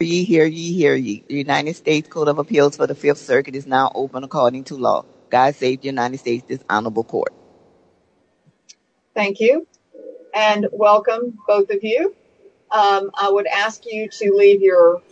The United States Code of Appeals for the Fifth Circuit is now open according to law. God save the United States, this honorable court. Thank you and welcome both of you. I would ask you to leave your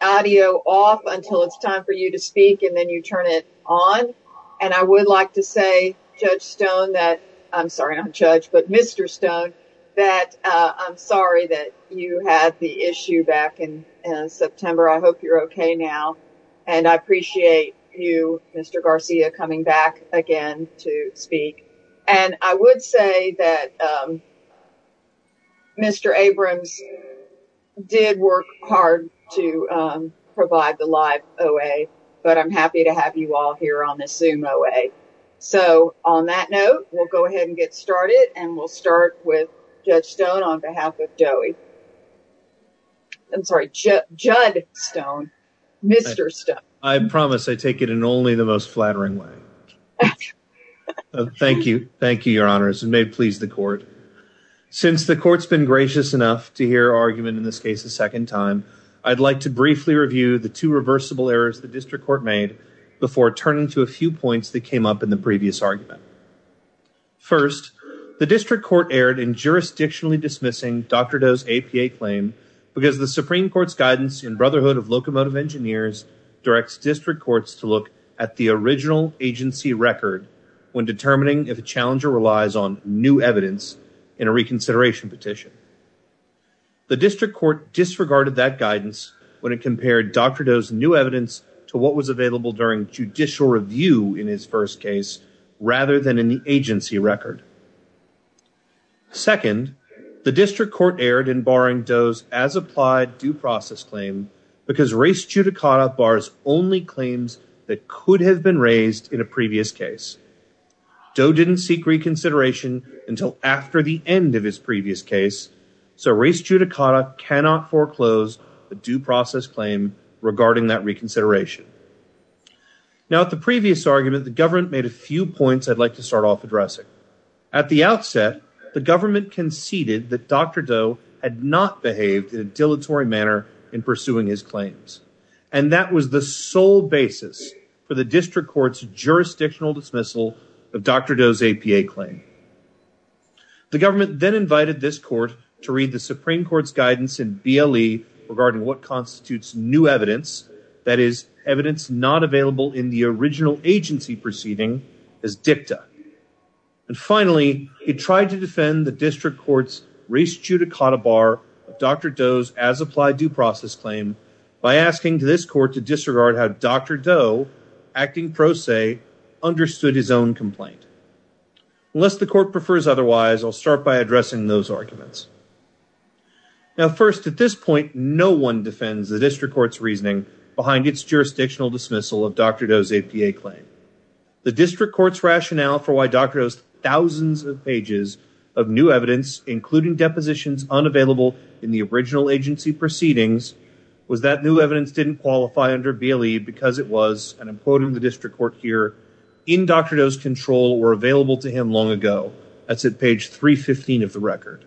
audio off until it's time for you to speak and then you turn it on. And I would like to say, Judge Stone that, I'm sorry, not judge, but Mr. Stone, that I'm sorry that you had the issue back in September. I hope you're okay now. And I appreciate you, Mr. Garcia, coming back again to speak. And I would say that Mr. Abrams did work hard to provide the live OA, but I'm happy to have you all here on the Zoom OA. So on that note, we'll go ahead and get started and we'll start with Judge Stone on behalf of DOE. I'm sorry, Jud Stone, Mr. Stone. I promise I take it in only the most flattering way. Thank you. Thank you, your honors. And may it please the court. Since the court's been gracious enough to hear argument in this case a second time, I'd like to briefly review the two reversible errors the district court made before turning to a few points that came up in the previous argument. First, the district court erred in jurisdictionally dismissing Dr. Doe's APA claim because the Supreme Court's guidance in Brotherhood of Locomotive Engineers directs district courts to look at the original agency record when determining if a challenger relies on new evidence in a reconsideration petition. The district court disregarded that guidance when it compared Dr. Doe's new evidence to what was available during judicial review in his first case rather than in the agency record. Second, the district court erred in barring Doe's as-applied due process claim because Race Judicata bars only claims that could have been raised in a previous case. Doe didn't seek reconsideration until after the end of his previous case, so Race Judicata cannot foreclose a due process claim regarding that reconsideration. Now at the previous argument, the government made a few points I'd like to start off addressing. At the outset, the government conceded that Dr. Doe had not behaved in a dilatory manner in pursuing his claims, and that was the sole basis for the district court's jurisdictional dismissal of Dr. Doe's APA claim. The government then invited this court to read the Supreme Court's guidance in BLE regarding what constitutes new evidence, that is, evidence not available in the original agency proceeding, as dicta. And finally, it tried to defend the district court's Race Judicata bar of Dr. Doe's as-applied due process claim by asking this court to disregard how Dr. Doe, acting pro se, understood his own complaint. Unless the court prefers otherwise, I'll start by addressing those arguments. Now first, at this point, no one defends the district court's reasoning behind its jurisdictional dismissal of Dr. Doe's APA claim. The district court's rationale for why Dr. Doe's thousands of pages of new evidence, including depositions unavailable in the original agency proceedings, was that new evidence didn't qualify under BLE because it was, and I'm quoting the district court here, in Dr. Doe's control, were available to him long ago. That's at page 315 of the record.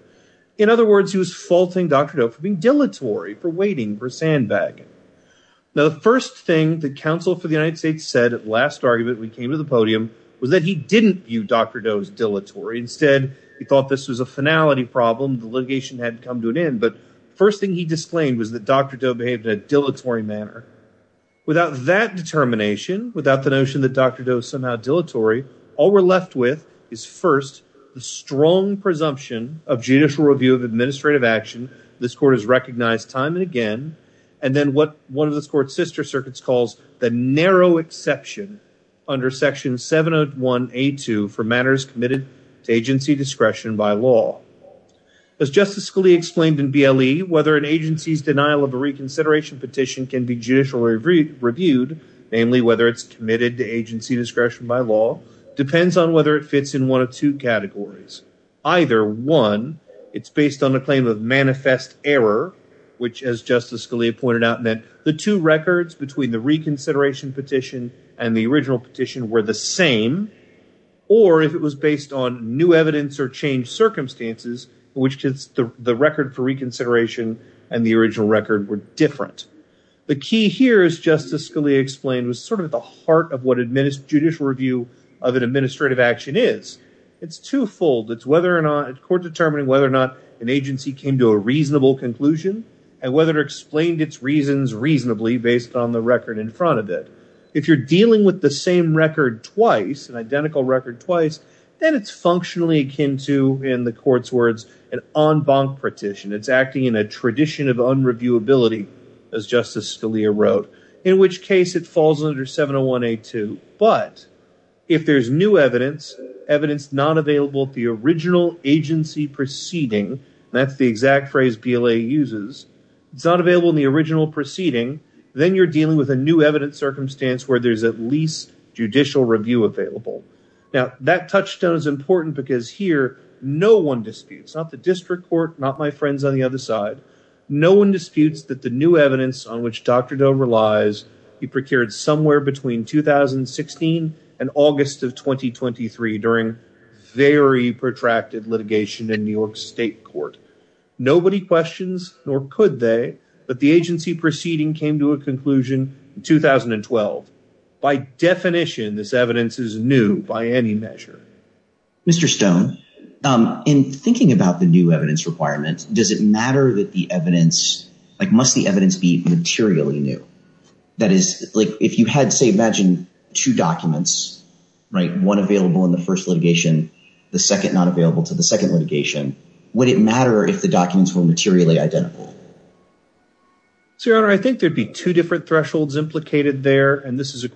In other words, he was faulting Dr. Doe for being dilatory, for waiting, for sandbagging. Now the first thing the counsel for the United States said at the last argument we came to the podium was that he didn't view Dr. Doe's dilatory. Instead, he thought this was a finality problem, the litigation hadn't come to an end. But the first thing he disclaimed was that Dr. Doe behaved in a dilatory manner. Without that determination, without the notion that Dr. Doe is somehow dilatory, all we're left with is first, the strong presumption of judicial review of administrative action this court has recognized time and again, and then what one of this court's sister circuits calls the narrow exception under section 701A2 for matters committed to agency discretion by law. As Justice Scalia explained in BLE, whether an agency's denial of a reconsideration petition can be judicially reviewed, namely whether it's committed to agency discretion by law, depends on whether it fits in one of two categories. Either one, it's based on a claim of manifest error, which as Justice Scalia pointed out meant the two records between the reconsideration petition and the original petition were the same, or if it was based on new evidence or changed circumstances, which the record for reconsideration and the original record were different. The key here, as Justice Scalia explained, was sort of the heart of what judicial review of an administrative action is. It's twofold. It's whether or not, a court determining whether or not an agency came to a reasonable conclusion and whether it explained its reasons reasonably based on the record in front of it. If you're dealing with the same record twice, an identical record twice, then it's functionally akin to, in the court's words, an en banc petition. It's acting in a tradition of unreviewability, as Justice Scalia wrote, in which case it falls under 701A2, but if there's new evidence, evidence not available at the original agency proceeding, that's the exact phrase BLA uses, it's not available in the original proceeding, then you're dealing with a new evidence circumstance where there's at least judicial review available. That touchstone is important because here no one disputes, not the district court, not my friends on the other side, no one disputes that the new evidence on which Dr. Doan relies, he procured somewhere between 2016 and August of 2023 during very protracted litigation in New York state court. Nobody questions nor could they, but the agency proceeding came to a conclusion in 2012. By definition, this evidence is new by any measure. Mr. Stone, in thinking about the new evidence requirement, does it matter that the evidence, must the evidence be materially new? That is, if you had, say, imagine two documents, right, one available in the first litigation, the second not available to the second litigation, would it matter if the documents were materially identical? Your Honor, I think there'd be two different thresholds implicated there, and this is a But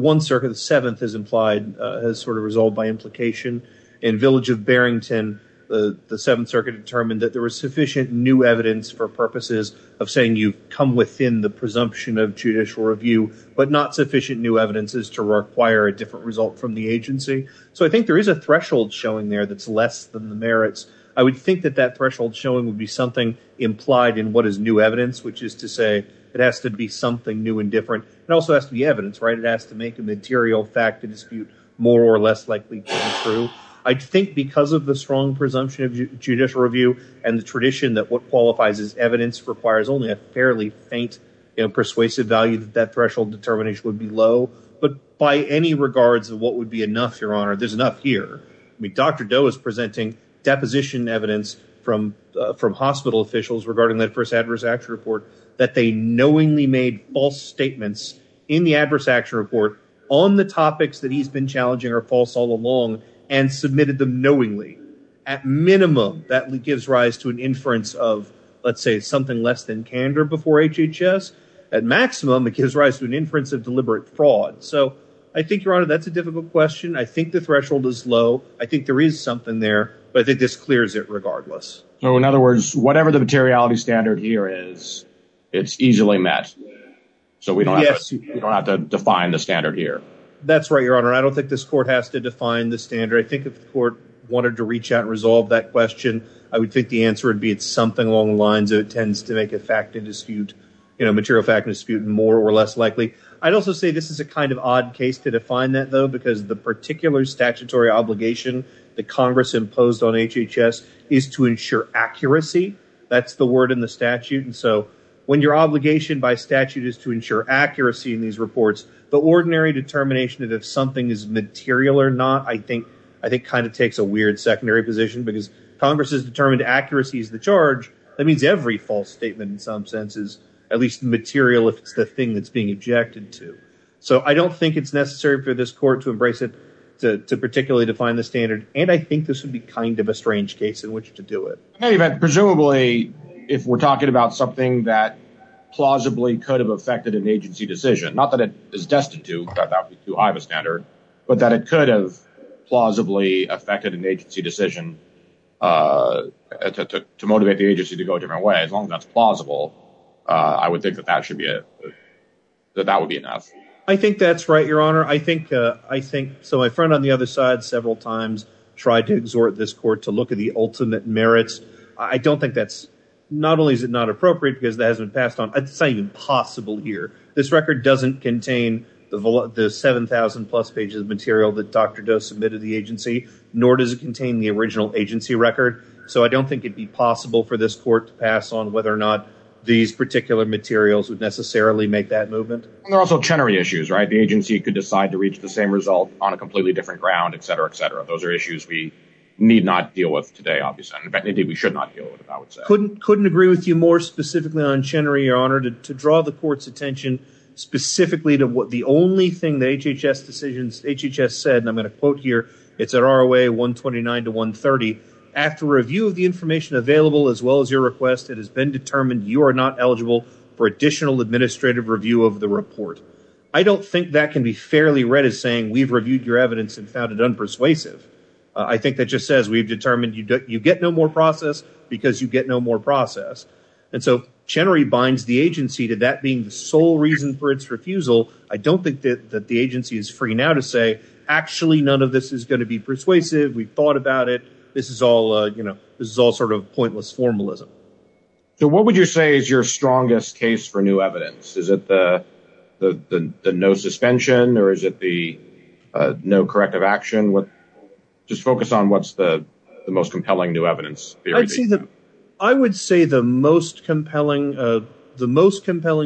one circuit, the seventh is implied, has sort of resolved by implication. In Village of Barrington, the seventh circuit determined that there was sufficient new evidence for purposes of saying you've come within the presumption of judicial review, but not sufficient new evidence is to require a different result from the agency. So I think there is a threshold showing there that's less than the merits. I would think that that threshold showing would be something implied in what is new evidence, which is to say it has to be something new and different. It also has to be evidence, right? It has to make a material fact to dispute more or less likely to be true. I think because of the strong presumption of judicial review and the tradition that what qualifies as evidence requires only a fairly faint and persuasive value, that threshold determination would be low. But by any regards of what would be enough, Your Honor, there's enough here. I mean, Dr. Doe is presenting deposition evidence from hospital officials regarding that first that they knowingly made false statements in the adverse action report on the topics that he's been challenging are false all along and submitted them knowingly. At minimum, that gives rise to an inference of, let's say, something less than candor before HHS. At maximum, it gives rise to an inference of deliberate fraud. So I think, Your Honor, that's a difficult question. I think the threshold is low. I think there is something there, but I think this clears it regardless. So, in other words, whatever the materiality standard here is, it's easily met. So we don't have to define the standard here. That's right, Your Honor. I don't think this court has to define the standard. I think if the court wanted to reach out and resolve that question, I would think the answer would be it's something along the lines of it tends to make a fact to dispute, you know, material fact to dispute more or less likely. I'd also say this is a kind of odd case to define that, though, because the particular statutory obligation that Congress imposed on HHS is to ensure accuracy. That's the word in the statute, and so when your obligation by statute is to ensure accuracy in these reports, the ordinary determination that if something is material or not, I think kind of takes a weird secondary position, because Congress has determined accuracy is the charge. That means every false statement, in some sense, is at least material if it's the thing that's being objected to. So I don't think it's necessary for this court to embrace it to particularly define the standard, and I think this would be kind of a strange case in which to do it. In any event, presumably, if we're talking about something that plausibly could have affected an agency decision, not that it is destined to, that would be too high of a standard, but that it could have plausibly affected an agency decision to motivate the agency to go a different way, as long as that's plausible, I would think that that would be enough. I think that's right, Your Honor. I think, so my friend on the other side several times tried to exhort this court to look at the ultimate merits. I don't think that's, not only is it not appropriate because it hasn't been passed on, it's not even possible here. This record doesn't contain the 7,000 plus pages of material that Dr. Doe submitted to the agency, nor does it contain the original agency record, so I don't think it'd be possible for this court to pass on whether or not these particular materials would necessarily make that movement. There are also Chenery issues, right? The agency could decide to reach the same result on a completely different ground, etc., etc. Those are issues we need not deal with today, obviously, and indeed we should not deal with it, I would say. Couldn't agree with you more specifically on Chenery, Your Honor, to draw the court's attention specifically to what the only thing the HHS decisions, HHS said, and I'm going to quote here, it's at ROA 129 to 130, after review of the information available as well as your request, it has been determined you are not eligible for additional administrative review of the report. I don't think that can be fairly read as saying we've reviewed your evidence and found it unpersuasive. I think that just says we've determined you get no more process because you get no more process, and so Chenery binds the agency to that being the sole reason for its refusal. I don't think that the agency is free now to say, actually, none of this is going to be persuasive. We've thought about it. This is all, you know, this is all sort of pointless formalism. What would you say is your strongest case for new evidence? Is it the no suspension or is it the no corrective action? Just focus on what's the most compelling new evidence. I would say the most compelling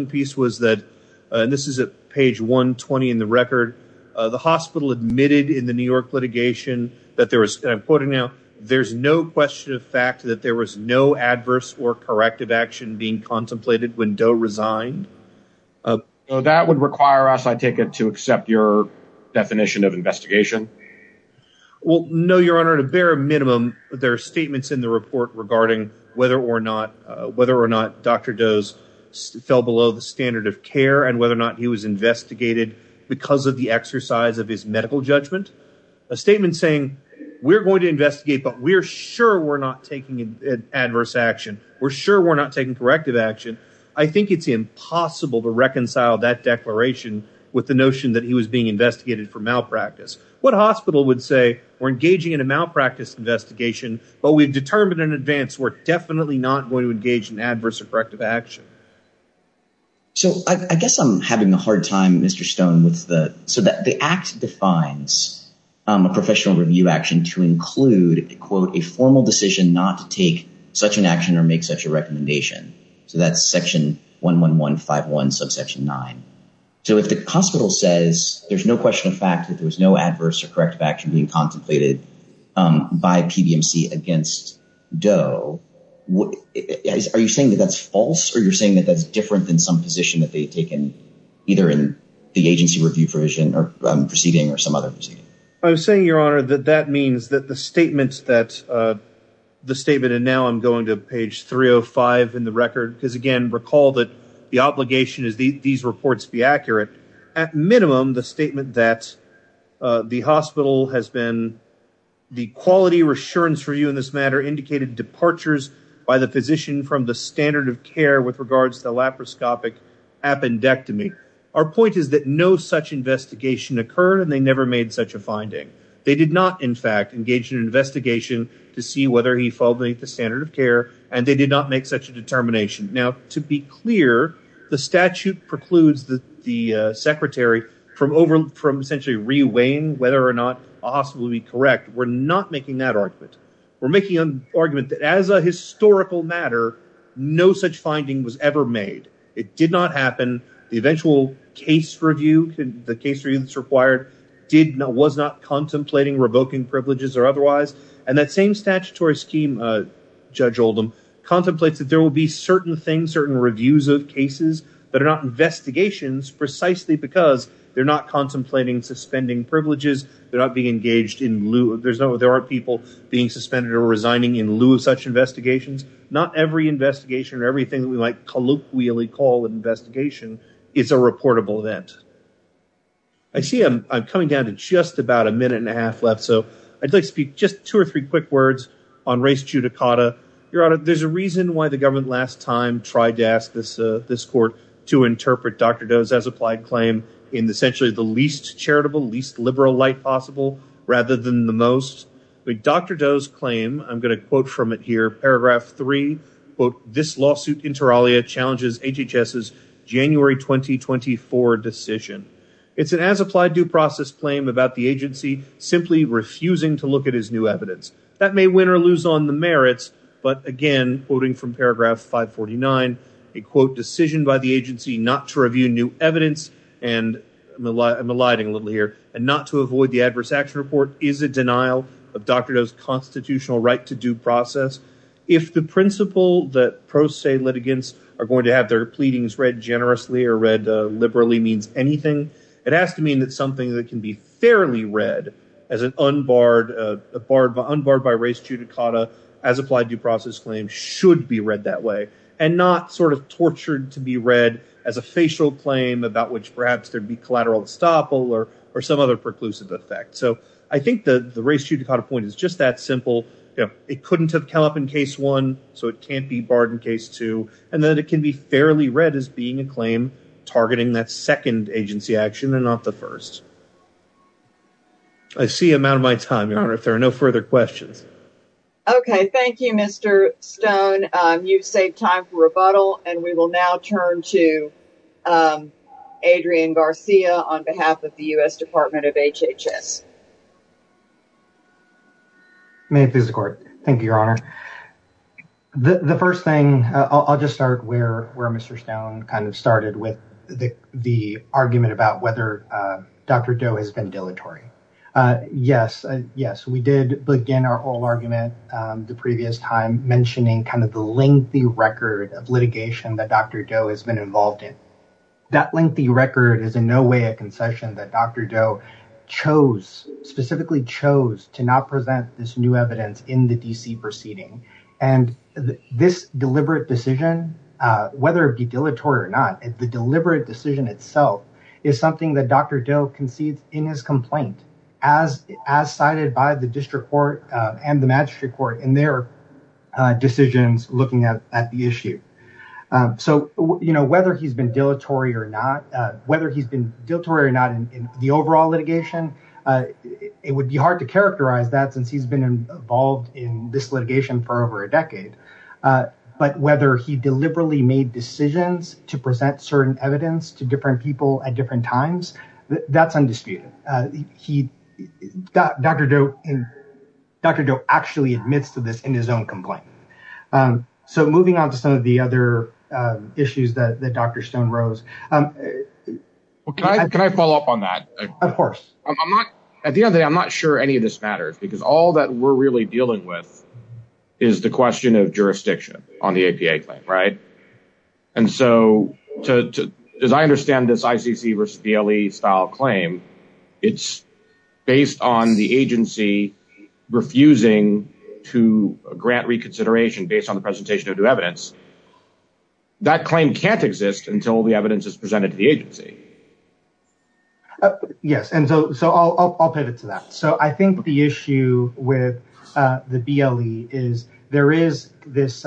piece was that, and this is at page 120 in the record, the hospital admitted in the New York litigation that there was, and I'm quoting now, there's no question of fact that there was no adverse or corrective action being contemplated when Doe resigned. So that would require us, I take it, to accept your definition of investigation? Well, no, your honor, at a bare minimum, there are statements in the report regarding whether or not, whether or not Dr. Doe's fell below the standard of care and whether or not he was investigated because of the exercise of his medical judgment. A statement saying we're going to investigate, but we're sure we're not taking adverse action. We're sure we're not taking corrective action. I think it's impossible to reconcile that declaration with the notion that he was being investigated for malpractice. What hospital would say, we're engaging in a malpractice investigation, but we've determined in advance we're definitely not going to engage in adverse or corrective action. So I guess I'm having a hard time, Mr. Stone, with the, so that the act defines a professional review action to include, quote, a formal decision not to take such an action or make such a recommendation. So that's section one, one, one, five, one subsection nine. So if the hospital says there's no question of fact that there was no adverse or corrective action being contemplated by PBMC against Doe, are you saying that that's false or you're saying that that's different than some position that they've taken either in the agency review provision or proceeding or some other proceeding? I'm saying, your honor, that that means that the statements that, the statement, and now I'm going to page 305 in the record, because, again, recall that the obligation is these reports be accurate, at minimum, the statement that the hospital has been, the quality reassurance for you in this matter indicated departures by the physician from the standard of care with regards to laparoscopic appendectomy. Our point is that no such investigation occurred and they never made such a finding. They did not, in fact, engage in an investigation to see whether he followed the standard of care and they did not make such a determination. Now to be clear, the statute precludes the secretary from essentially reweighing whether or not a hospital would be correct. We're not making that argument. We're making an argument that as a historical matter, no such finding was ever made. It did not happen. The eventual case review, the case review that's required, did not, was not contemplating revoking privileges or otherwise, and that same statutory scheme, Judge Oldham, contemplates that there will be certain things, certain reviews of cases that are not investigations precisely because they're not contemplating suspending privileges, they're not being engaged in lieu, there are people being suspended or resigning in lieu of such investigations. Not every investigation or everything that we might colloquially call an investigation is a reportable event. I see I'm coming down to just about a minute and a half left, so I'd like to speak just two or three quick words on race judicata. Your Honor, there's a reason why the government last time tried to ask this court to interpret Dr. Doe's as applied claim in essentially the least charitable, least liberal light possible rather than the most. Dr. Doe's claim, I'm going to quote from it here, paragraph three, quote, this lawsuit inter alia challenges HHS's January 2024 decision. It's an as applied due process claim about the agency simply refusing to look at his new evidence. That may win or lose on the merits, but again, quoting from paragraph 549, a quote, decision by the agency not to review new evidence, and I'm eliding a little here, and not to Dr. Doe's constitutional right to due process. If the principle that pro se litigants are going to have their pleadings read generously or read liberally means anything, it has to mean that something that can be fairly read as an unbarred, unbarred by race judicata as applied due process claim should be read that way and not sort of tortured to be read as a facial claim about which perhaps there'd be collateral estoppel or some other preclusive effect. I think the race judicata point is just that simple. It couldn't have come up in case one, so it can't be barred in case two, and then it can be fairly read as being a claim targeting that second agency action and not the first. I see I'm out of my time, Your Honor, if there are no further questions. Okay, thank you, Mr. Stone. You've saved time for rebuttal, and we will now turn to Adrian Garcia on behalf of the U.S. Department of HHS. May it please the Court. Thank you, Your Honor. The first thing, I'll just start where Mr. Stone kind of started with the argument about whether Dr. Doe has been dilatory. Yes, yes, we did begin our whole argument the previous time mentioning kind of the lengthy record of litigation that Dr. Doe has been involved in. That lengthy record is in no way a concession that Dr. Doe chose, specifically chose, to not present this new evidence in the D.C. proceeding. And this deliberate decision, whether it be dilatory or not, the deliberate decision itself is something that Dr. Doe concedes in his complaint as cited by the district court and the magistrate court in their decisions looking at the issue. So, you know, whether he's been dilatory or not, whether he's been dilatory or not in the overall litigation, it would be hard to characterize that since he's been involved in this litigation for over a decade. But whether he deliberately made decisions to present certain evidence to different people at different times, that's undisputed. Dr. Doe actually admits to this in his own complaint. So, moving on to some of the other issues that Dr. Stone rose. Can I follow up on that? I'm not, at the end of the day, I'm not sure any of this matters because all that we're really dealing with is the question of jurisdiction on the APA claim, right? And so, as I understand this ICC versus DLE style claim, it's based on the agency refusing to grant reconsideration based on the presentation of new evidence. That claim can't exist until the evidence is presented to the agency. Yes, and so I'll pivot to that. So, I think the issue with the DLE is there is this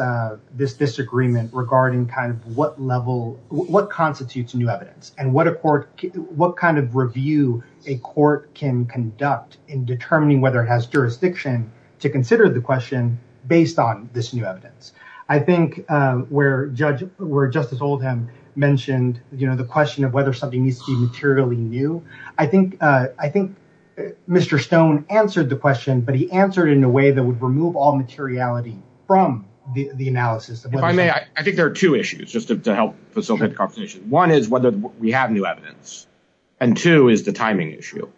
disagreement regarding kind of what level, what constitutes new evidence and what kind of review a court can conduct in determining whether it has jurisdiction to consider the question based on this new evidence. I think where Justice Oldham mentioned the question of whether something needs to be materially new, I think Mr. Stone answered the question, but he answered it in a way that would remove all materiality from the analysis. If I may, I think there are two issues, just to help facilitate the conversation. One is whether we have new evidence and two is the timing issue.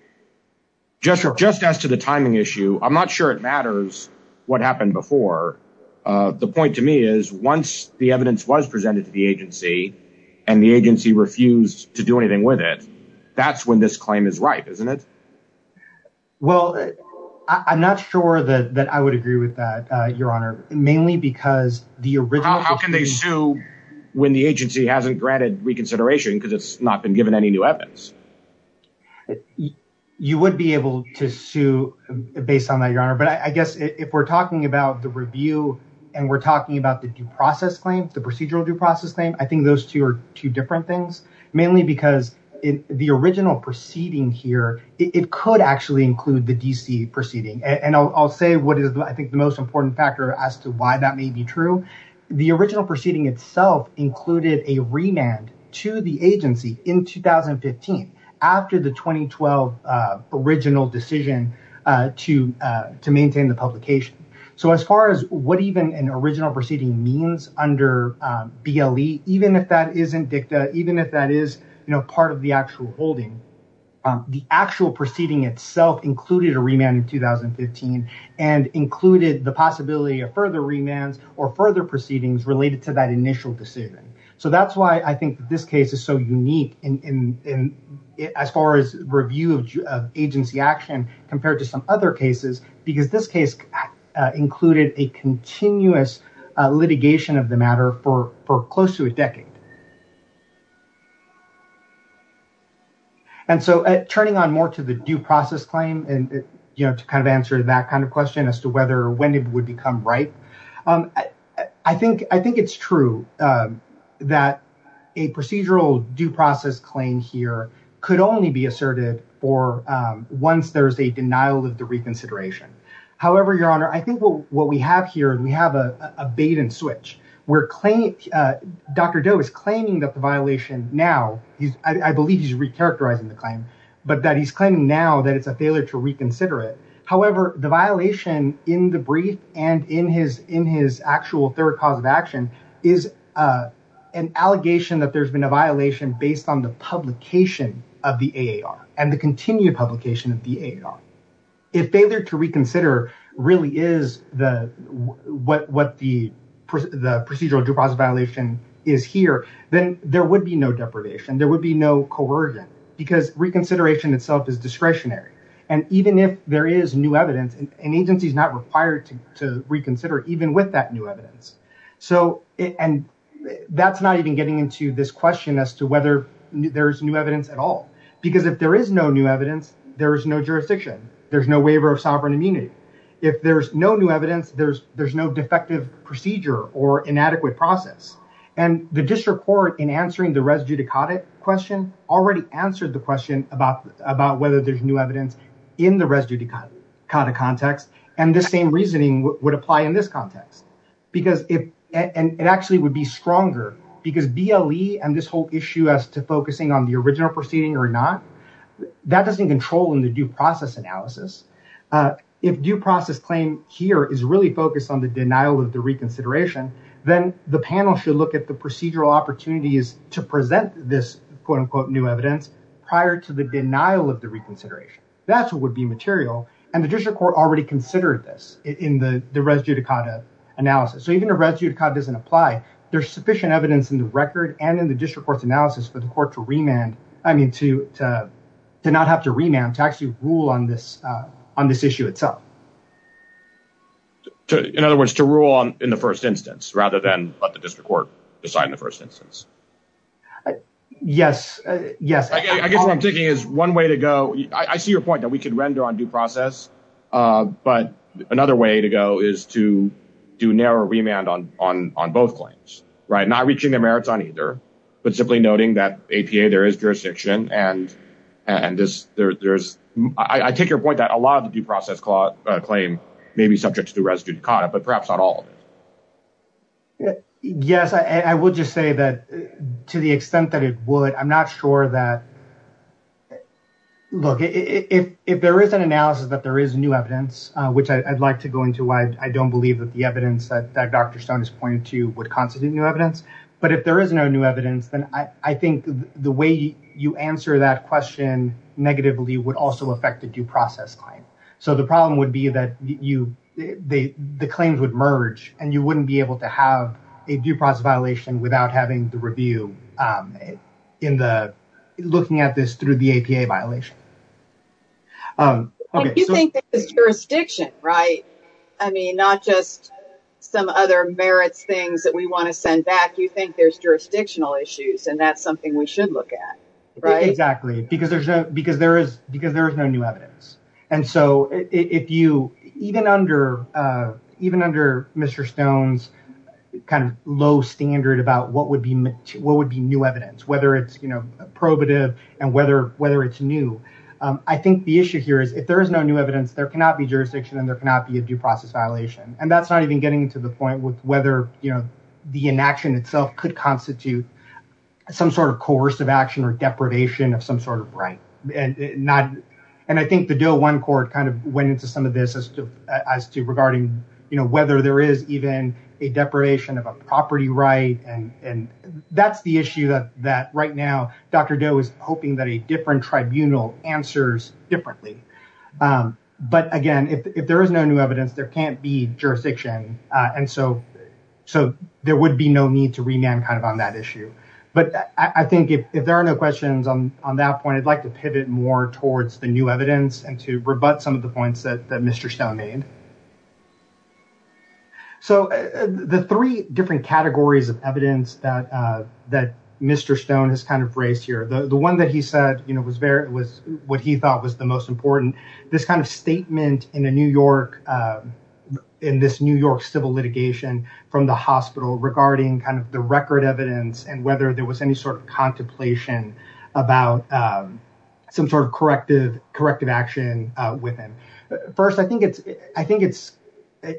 Just as to the timing issue, I'm not sure it matters what happened before. The point to me is once the evidence was presented to the agency and the agency refused to do anything with it, that's when this claim is ripe, isn't it? Well, I'm not sure that I would agree with that, Your Honor, mainly because the original- How can they sue when the agency hasn't granted reconsideration because it's not been given any new evidence? You would be able to sue based on that, Your Honor, but I guess if we're talking about the review and we're talking about the due process claim, the procedural due process claim, I think those two are two different things, mainly because the original proceeding here, it could actually include the DC proceeding. And I'll say what is, I think, the most important factor as to why that may be true. The original proceeding itself included a remand to the agency in 2015 after the 2012 original decision to maintain the publication. So as far as what even an original proceeding means under BLE, even if that isn't dicta, even if that is part of the actual holding, the actual proceeding itself included a remand in 2015 and included the possibility of further remands or further proceedings related to that initial decision. So that's why I think this case is so unique as far as review of agency action compared to some other cases, because this case included a continuous litigation of the matter for close to a decade. And so turning on more to the due process claim and, you know, to kind of answer that kind of question as to whether or when it would become right, I think, I think it's true that a procedural due process claim here could only be asserted for once there's a denial of the reconsideration. However, Your Honor, I think what we have here, we have a bait and switch where claim, Dr. Doe is claiming that the violation now, I believe he's recharacterizing the claim, but that he's claiming now that it's a failure to reconsider it. However, the violation in the brief and in his actual third cause of action is an allegation that there's been a violation based on the publication of the AAR and the continued publication of the AAR. If failure to reconsider really is what the procedural due process violation is here, then there would be no deprivation. There would be no coercion because reconsideration itself is discretionary. And even if there is new evidence, an agency is not required to reconsider even with that new evidence. And that's not even getting into this question as to whether there's new evidence at all, because if there is no new evidence, there is no jurisdiction. There's no waiver of sovereign immunity. If there's no new evidence, there's no defective procedure or inadequate process. And the district court in answering the res judicata question already answered the question about whether there's new evidence in the res judicata context. And the same reasoning would apply in this context. And it actually would be stronger because BLE and this whole issue as to focusing on the original proceeding or not, that doesn't control in the due process analysis. If due process claim here is really focused on the denial of the reconsideration, then the panel should look at the procedural opportunities to present this, quote unquote, new evidence prior to the denial of the reconsideration. That's what would be material. And the district court already considered this in the res judicata analysis. So even if res judicata doesn't apply, there's sufficient evidence in the record and in the district court's analysis for the court to remand, I mean, to not have to remand to actually rule on this on this issue itself. In other words, to rule on in the first instance rather than let the district court decide in the first instance. Yes, yes. I guess what I'm thinking is one way to go. I see your point that we could render on due process. But another way to go is to do narrow remand on both claims, right? Not reaching their merits on either. But simply noting that APA, there is jurisdiction. And I take your point that a lot of the due process claim may be subject to res judicata, but perhaps not all. Yes, I will just say that to the extent that it would, I'm not sure that. Look, if there is an analysis that there is new evidence, which I'd like to go into why I don't believe that the evidence that Dr. Stone is pointing to would constitute new evidence. But if there is no new evidence, then I think the way you answer that question negatively would also affect the due process claim. So the problem would be that you, the claims would merge and you wouldn't be able to have a due process violation without having the review in the, looking at this through the APA violation. You think there's jurisdiction, right? I mean, not just some other merits things that we want to send back. You think there's jurisdictional issues and that's something we should look at, right? Exactly, because there's no new evidence. And so if you, even under Mr. Stone's kind of low standard about what would be new evidence, whether it's probative and whether it's new. I think the issue here is if there is no new evidence, there cannot be jurisdiction and there cannot be a due process violation. And that's not even getting to the point with whether the inaction itself could constitute some sort of coercive action or deprivation of some sort of right. And I think the DOE I court kind of went into some of this as to regarding whether there is even a deprivation of a property right. And that's the issue that right now, Dr. Doe is hoping that a different tribunal answers differently. But again, if there is no new evidence, there can't be jurisdiction. And so there would be no need to remand kind of on that issue. But I think if there are no questions on that point, I'd like to pivot more towards the new evidence and to rebut some of the points that Mr. Stone made. So the three different categories of evidence that Mr. Stone has kind of raised here, the one that he said was what he thought was the most important, this kind of statement in a New York, in this New York civil litigation from the hospital regarding kind of the record evidence and whether there was any sort of contemplation about some sort of corrective action with him. First, I think it's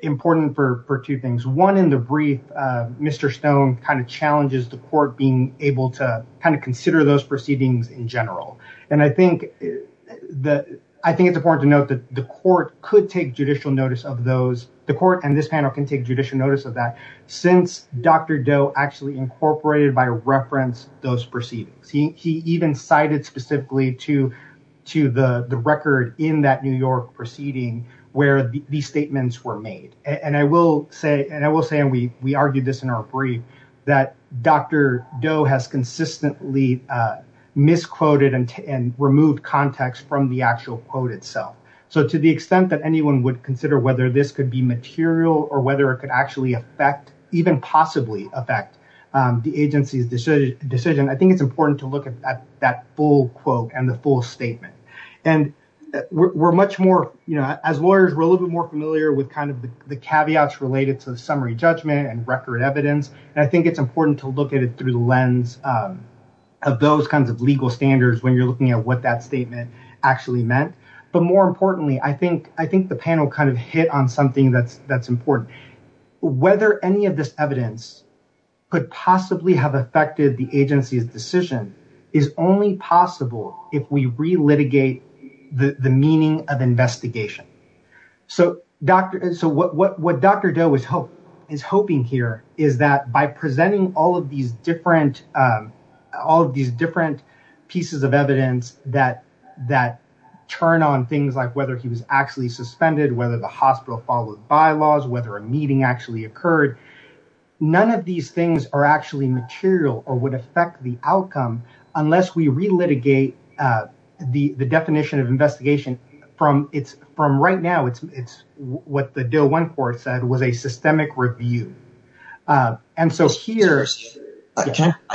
important for two things. One, in the brief, Mr. Stone kind of challenges the court being able to kind of consider those proceedings in general. And I think that I think it's important to note that the court could take judicial notice of those. The court and this panel can take judicial notice of that since Dr. Doe actually incorporated by reference those proceedings. He even cited specifically to the record in that New York proceeding where these statements were made. And I will say, and I will say, and we argued this in our brief, that Dr. Doe has consistently misquoted and removed context from the actual quote itself. So to the extent that anyone would consider whether this could be material or whether it could actually affect, even possibly affect the agency's decision, I think it's important to look at that full quote and the full statement. And we're much more, you know, as lawyers, we're a little bit more familiar with kind of the caveats related to the summary judgment and record evidence. And I think it's important to look at it through the lens of those kinds of legal standards when you're looking at what that statement actually meant. But more importantly, I think the panel kind of hit on something that's important. Whether any of this evidence could possibly have affected the agency's decision is only possible if we re-litigate the meaning of investigation. So what Dr. Doe is hoping here is that by presenting all of these different pieces of evidence that turn on things like whether he was actually suspended, whether the hospital followed bylaws, whether a meeting actually occurred, none of these things are actually material or would affect the outcome unless we re-litigate the definition of investigation from it's from right now. It's what the DOE court said was a systemic review. And so here,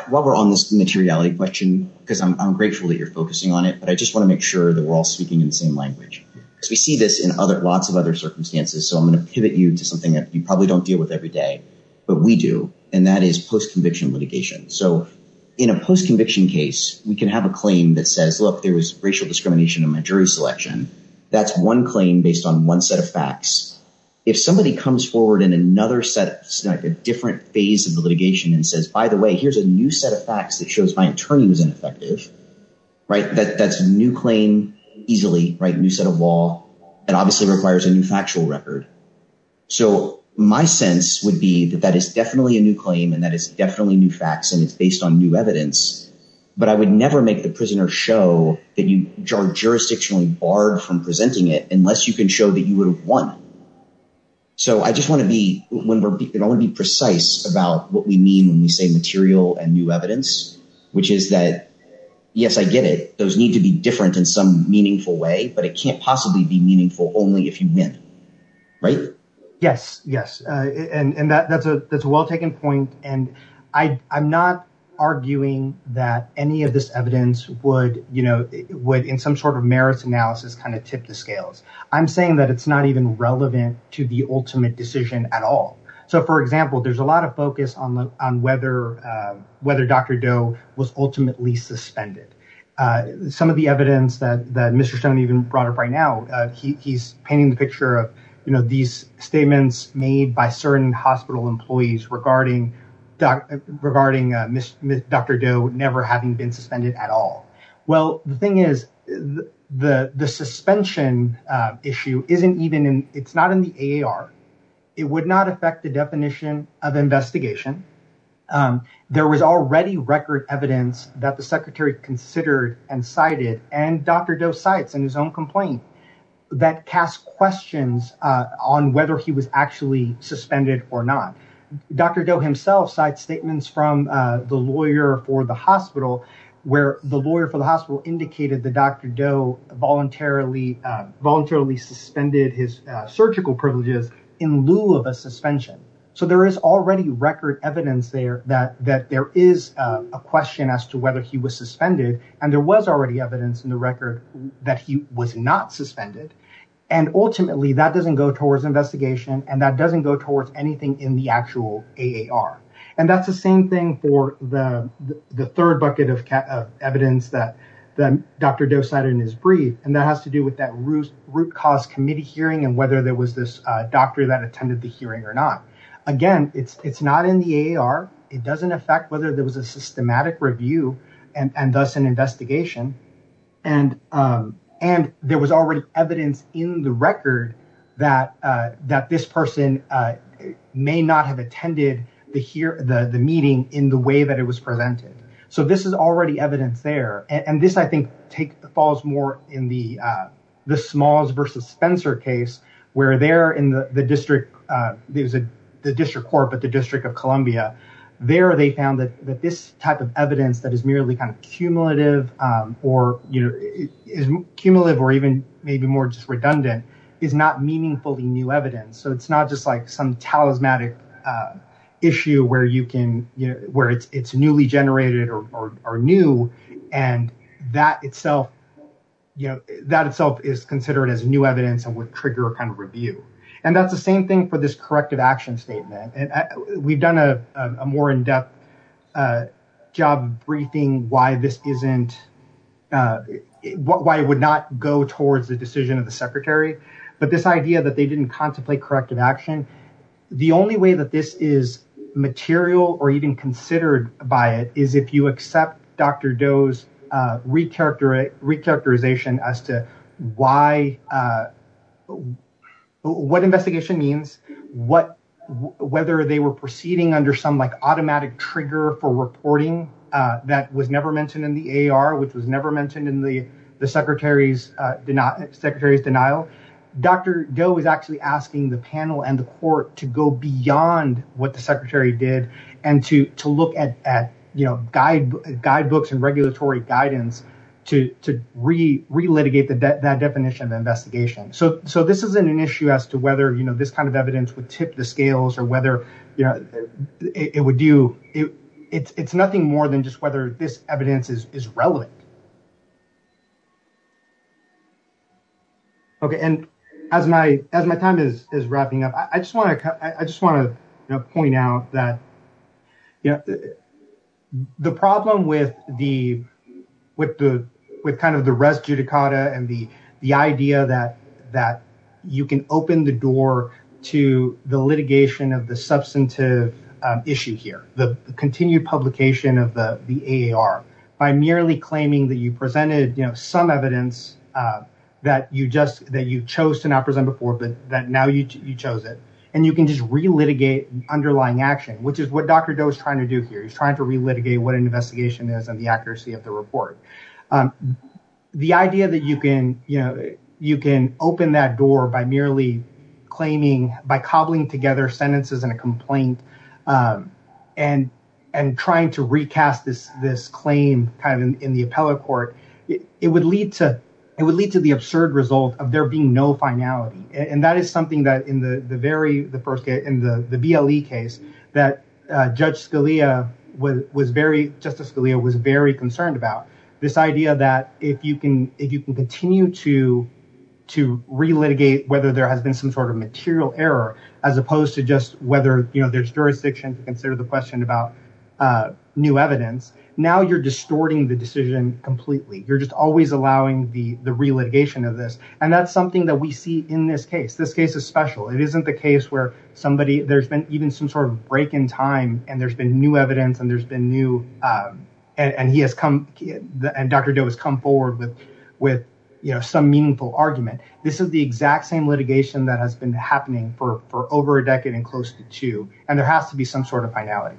while we're on this materiality question, because I'm grateful that you're focusing on it, but I just want to make sure that we're all speaking in the same language. Because we see this in other lots of other circumstances. So I'm going to pivot you to something that you probably don't deal with every day, but we do. And that is post-conviction litigation. So in a post-conviction case, we can have a claim that says, look, there was racial discrimination in my jury selection. That's one claim based on one set of facts. If somebody comes forward in another set, like a different phase of the litigation and says, by the way, here's a new set of facts that shows my attorney was ineffective, right? That's a new claim easily, right? New set of law that obviously requires a new factual record. So my sense would be that that is definitely a new claim and that is definitely new facts and it's based on new evidence. But I would never make the prisoner show that you are jurisdictionally barred from presenting it unless you can show that you would have won. So I just want to be precise about what we mean when we say material and new evidence, which is that, yes, I get it. Those need to be different in some meaningful way, but it can't possibly be meaningful only if you win. Yes, yes, and that's a well-taken point. And I'm not arguing that any of this evidence would, you know, would in some sort of merits analysis kind of tip the scales. I'm saying that it's not even relevant to the ultimate decision at all. So, for example, there's a lot of focus on whether Dr. Doe was ultimately suspended. Some of the evidence that Mr. Stone even brought up right now, he's painting the picture of these statements made by certain hospital employees regarding Dr. Doe never having been suspended at all. Well, the thing is, the suspension issue isn't even in, it's not in the AAR. It would not affect the definition of investigation. There was already record evidence that the secretary considered and cited and Dr. Doe cites in his own complaint that cast questions on whether he was actually suspended or not. Dr. Doe himself cites statements from the lawyer for the hospital where the lawyer for the hospital indicated that Dr. Doe voluntarily suspended his surgical privileges in lieu of a suspension. So there is already record evidence there that there is a question as to whether he was suspended and there was already evidence in the record that he was not suspended. And ultimately, that doesn't go towards investigation and that doesn't go towards anything in the actual AAR. And that's the same thing for the third bucket of evidence that Dr. Doe cited in his brief, and that has to do with that Root Cause Committee hearing and whether there was this doctor that attended the hearing or not. Again, it's not in the AAR. It doesn't affect whether there was a systematic review and thus an investigation. And there was already evidence in the record that this person may not have attended the meeting in the way that it was presented. So this is already evidence there. And this, I think, falls more in the Smalls versus Spencer case where they're in the district there's the district court, but the District of Columbia there, they found that this type of evidence that is merely kind of cumulative or is cumulative or even maybe more just redundant is not meaningfully new evidence. So it's not just like some talismanic issue where it's newly generated or new. And that itself is considered as new evidence and would trigger a kind of review. And that's the same thing for this corrective action statement. And we've done a more in-depth job briefing why this isn't, why it would not go towards the decision of the secretary. But this idea that they didn't contemplate corrective action, the only way that this is material or even considered by it is if you accept Dr. Doe's recharacterization as to what investigation means, whether they were proceeding under some like automatic trigger for reporting that was never mentioned in the AR, which was never mentioned in the secretary's denial. Dr. Doe is actually asking the panel and the court to go beyond what the secretary did and to look at guidebooks and regulatory guidance to re-litigate that definition of investigation. So this isn't an issue as to whether this kind of evidence would tip the scales or whether it would do, it's nothing more than just whether this evidence is relevant. And as my time is wrapping up, I just want to point out that the problem with kind of the res judicata and the idea that you can open the door to the litigation of the substantive issue here, the continued publication of the AR by merely claiming that you presented some evidence that you chose to not present before, but that now you chose it. And you can just re-litigate underlying action, which is what Dr. Doe is trying to do here. He's trying to re-litigate what an investigation is and the accuracy of the report. The idea that you can open that door by merely claiming, by cobbling together sentences and a complaint and trying to recast this claim kind of in the appellate court, it would lead to the absurd result of there being no finality. And that is something that in the very, the first case, in the BLE case that Judge Scalia was very, Justice Scalia was very concerned about. This idea that if you can continue to re-litigate whether there has been some sort of material error as opposed to just whether there's jurisdiction to consider the question about new evidence, now you're distorting the decision completely. You're just always allowing the re-litigation of this. And that's something that we see in this case. This case is special. It isn't the case where there's been even some sort of break in time and there's been new evidence and there's been new, and Dr. Doe has come forward with some meaningful argument. This is the exact same litigation that has been happening for over a decade and close to two, and there has to be some sort of finality.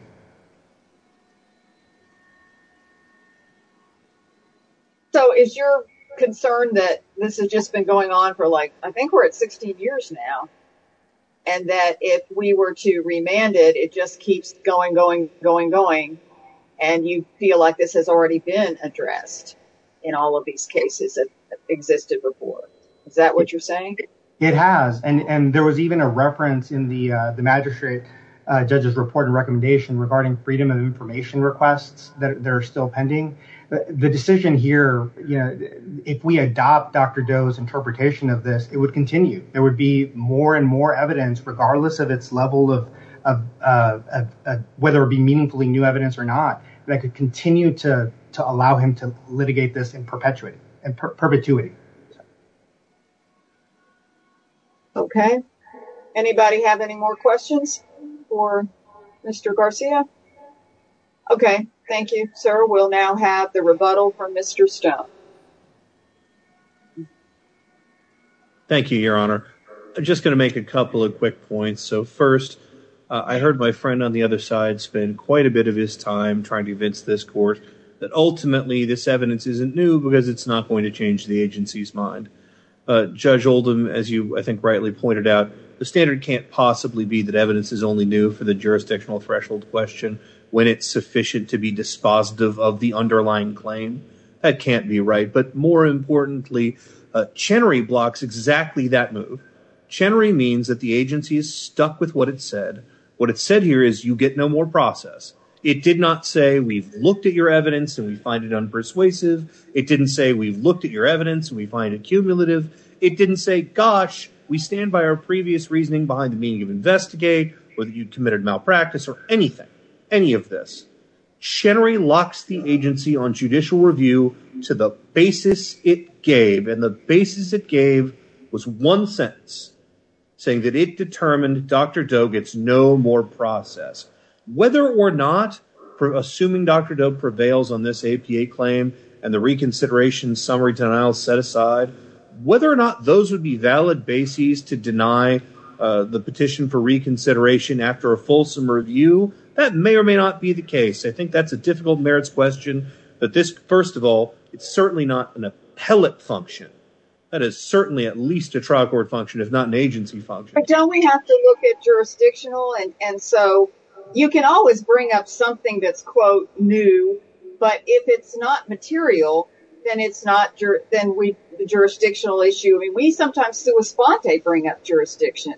So is your concern that this has just been going on for like, I think we're at 16 years now, and that if we were to remand it, it just keeps going, going, going, going, and you feel like this has already been addressed in all of these cases that existed before? Is that what you're saying? It has. And there was even a reference in the magistrate judge's report and recommendation regarding freedom of information requests that are still pending. The decision here, if we adopt Dr. Doe's interpretation of this, it would continue. There would be more and more evidence, regardless of its level of whether it be meaningfully new evidence or not, that could continue to allow him to litigate this in perpetuity. Okay. Anybody have any more questions for Mr. Garcia? Okay. Thank you, sir. We'll now have rebuttal from Mr. Stout. Thank you, Your Honor. I'm just going to make a couple of quick points. So first, I heard my friend on the other side spend quite a bit of his time trying to evince this court that ultimately this evidence isn't new because it's not going to change the agency's mind. Judge Oldham, as you, I think, rightly pointed out, the standard can't possibly be that evidence is only new for the jurisdictional threshold question when it's sufficient to be dispositive of the underlying claim. That can't be right. But more importantly, Chenery blocks exactly that move. Chenery means that the agency is stuck with what it said. What it said here is you get no more process. It did not say we've looked at your evidence and we find it unpersuasive. It didn't say we've looked at your evidence and we find it cumulative. It didn't say, gosh, we stand by our previous reasoning behind the meaning of investigate, whether you committed malpractice or anything, any of this. Chenery locks the agency on judicial review to the basis it gave. And the basis it gave was one sentence saying that it determined Dr. Doe gets no more process. Whether or not, assuming Dr. Doe prevails on this APA claim and the reconsideration summary denial set aside, whether or not those would be valid bases to deny the petition for reconsideration after a review, that may or may not be the case. I think that's a difficult merits question. But this, first of all, it's certainly not an appellate function. That is certainly at least a trial court function, if not an agency function. But don't we have to look at jurisdictional? And so you can always bring up something that's, quote, new. But if it's not material, then it's not then the jurisdictional issue. We sometimes bring up jurisdiction.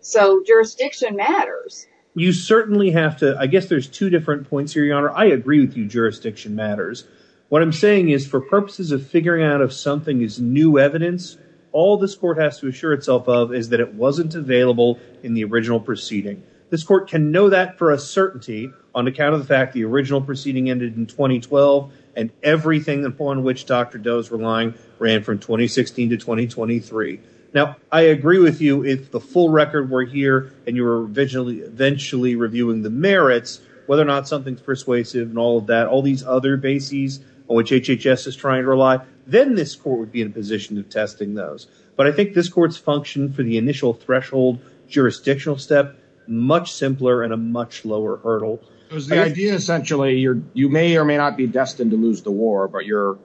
So jurisdiction matters. You certainly have to. I guess there's two different points here, Your Honor. I agree with you. Jurisdiction matters. What I'm saying is for purposes of figuring out if something is new evidence, all this court has to assure itself of is that it wasn't available in the original proceeding. This court can know that for a certainty on account of the fact the original proceeding ended in 2012 and everything upon which Dr. Doe's relying ran from 2016 to 2023. Now, I agree with you. If the full record were here and you were eventually reviewing the merits, whether or not something's persuasive and all of that, all these other bases on which HHS is trying to rely, then this court would be in a position of testing those. But I think this court's function for the initial threshold jurisdictional step, much simpler and a much lower hurdle. It was the idea, essentially, you may or may not be destined to lose the war, but you're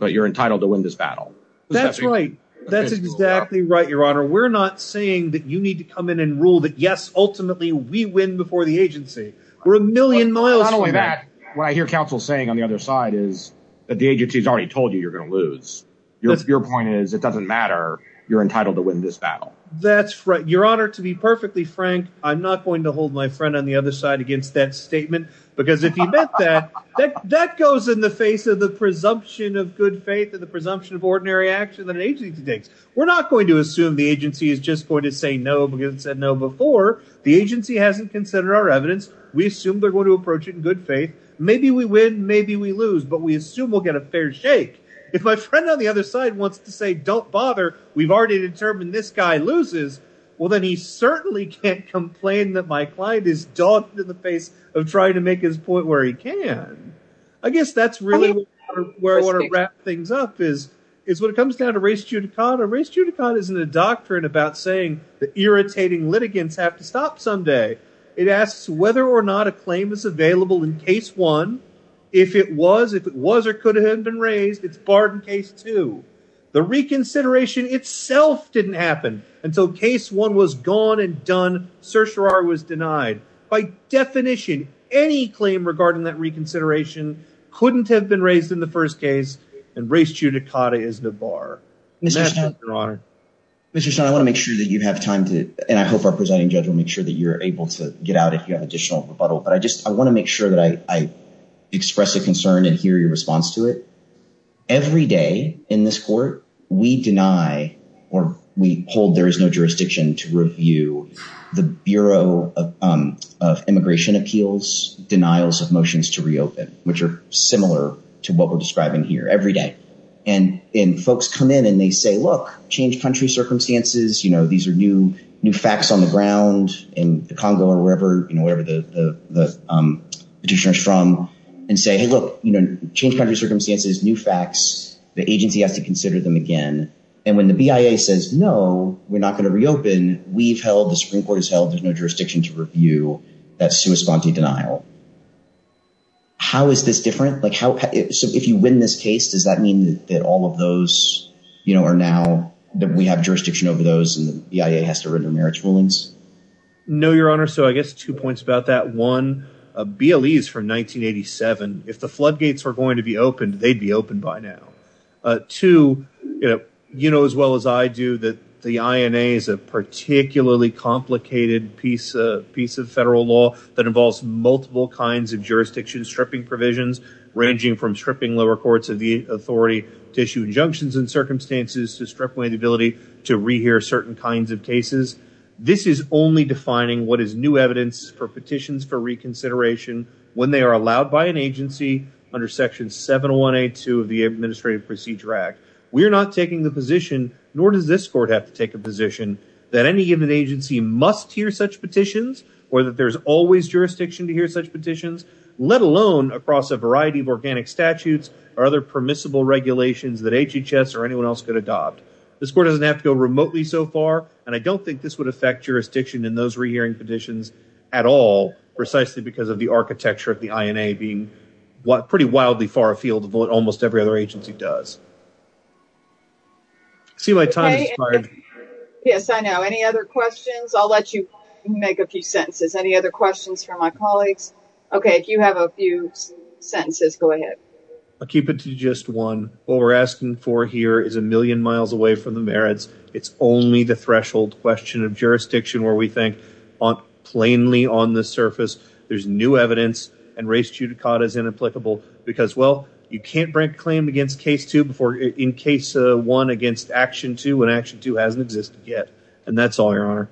entitled to win this battle. That's right. That's exactly right, Your Honor. We're not saying that you need to come in and rule that, yes, ultimately we win before the agency. We're a million miles from that. Not only that, what I hear counsel saying on the other side is that the agency's already told you you're going to lose. Your point is it doesn't matter. You're entitled to win this battle. That's right. Your Honor, to be perfectly frank, I'm not going to hold my friend on the other side against that statement because if he meant that, that goes in the face of the presumption of good faith and the presumption of ordinary action that an agency takes. We're not going to assume the agency is just going to say no because it said no before. The agency hasn't considered our evidence. We assume they're going to approach it in good faith. Maybe we win, maybe we lose, but we assume we'll get a fair shake. If my friend on the other side wants to say, don't bother, we've already determined this guy loses, well, then he certainly can't complain that my client is dogged in the face of trying to make his point where he I guess that's really where I want to wrap things up is when it comes down to race judicata. Race judicata isn't a doctrine about saying that irritating litigants have to stop someday. It asks whether or not a claim is available in case one. If it was, if it was or could have been raised, it's barred in case two. The reconsideration itself didn't happen until case one was gone and done. Certiorari was denied. By definition, any claim regarding that reconsideration couldn't have been raised in the first case and race judicata is the bar. Mr. Son, I want to make sure that you have time to, and I hope our presiding judge will make sure that you're able to get out if you have additional rebuttal, but I just, I want to make sure that I express a concern and hear your response to it. Every day in this court, we deny or we hold there is no jurisdiction to review the Bureau of Immigration Appeals' denials of motions to reopen, which are similar to what we're describing here every day. And folks come in and they say, look, change country circumstances, you know, these are new facts on the ground in the Congo or wherever, you know, wherever the petitioner's from and say, hey, look, you know, change country circumstances, new facts, the agency has to consider them again. And when the BIA says, no, we're not going to reopen, we've held, the Supreme Court has held, there's no jurisdiction to review that sua sponte denial. How is this different? Like how, so if you win this case, does that mean that all of those, you know, are now, that we have jurisdiction over those and the BIA has to render marriage rulings? No, your honor. So I guess two points about that. One, BLE is from 1987. If the floodgates were going to be opened, they'd be open by now. Two, you know, as well as I do, that the INA is a particularly complicated piece of federal law that involves multiple kinds of jurisdiction stripping provisions, ranging from stripping lower courts of the authority to issue injunctions in circumstances to strip away the ability to rehear certain kinds of cases. This is only defining what is new evidence for petitions for reconsideration when they are allowed by an agency under section 7182 of the Administrative Procedure Act. We're not taking the position, nor does this court have to take a position, that any given agency must hear such petitions or that there's always jurisdiction to hear such petitions, let alone across a variety of organic statutes or other permissible regulations that HHS or anyone else could adopt. This court doesn't have to go remotely so far, and I don't think this would affect jurisdiction in those rehearing petitions at all, precisely because of the architecture of the INA being pretty wildly far afield of what almost every other agency does. Yes, I know. Any other questions? I'll let you make a few sentences. Any other questions for my colleagues? Okay, if you have a few sentences, go ahead. I'll keep it to just one. What we're asking for here is a million miles away from the merits. It's only the threshold question of jurisdiction where we think on plainly on the surface there's new evidence and race judicata is inapplicable because, well, you can't break claim against case two before in case one against action two when action two hasn't existed yet, and that's all, Your Honor.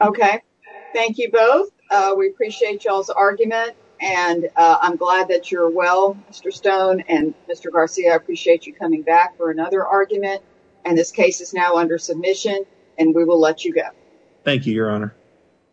Okay, thank you both. We appreciate y'all's argument, and I'm glad that you're well, Mr. Stone and Mr. Garcia. I appreciate you coming back for another argument, and this case is now under submission, and we will let you go. Thank you, Your Honor.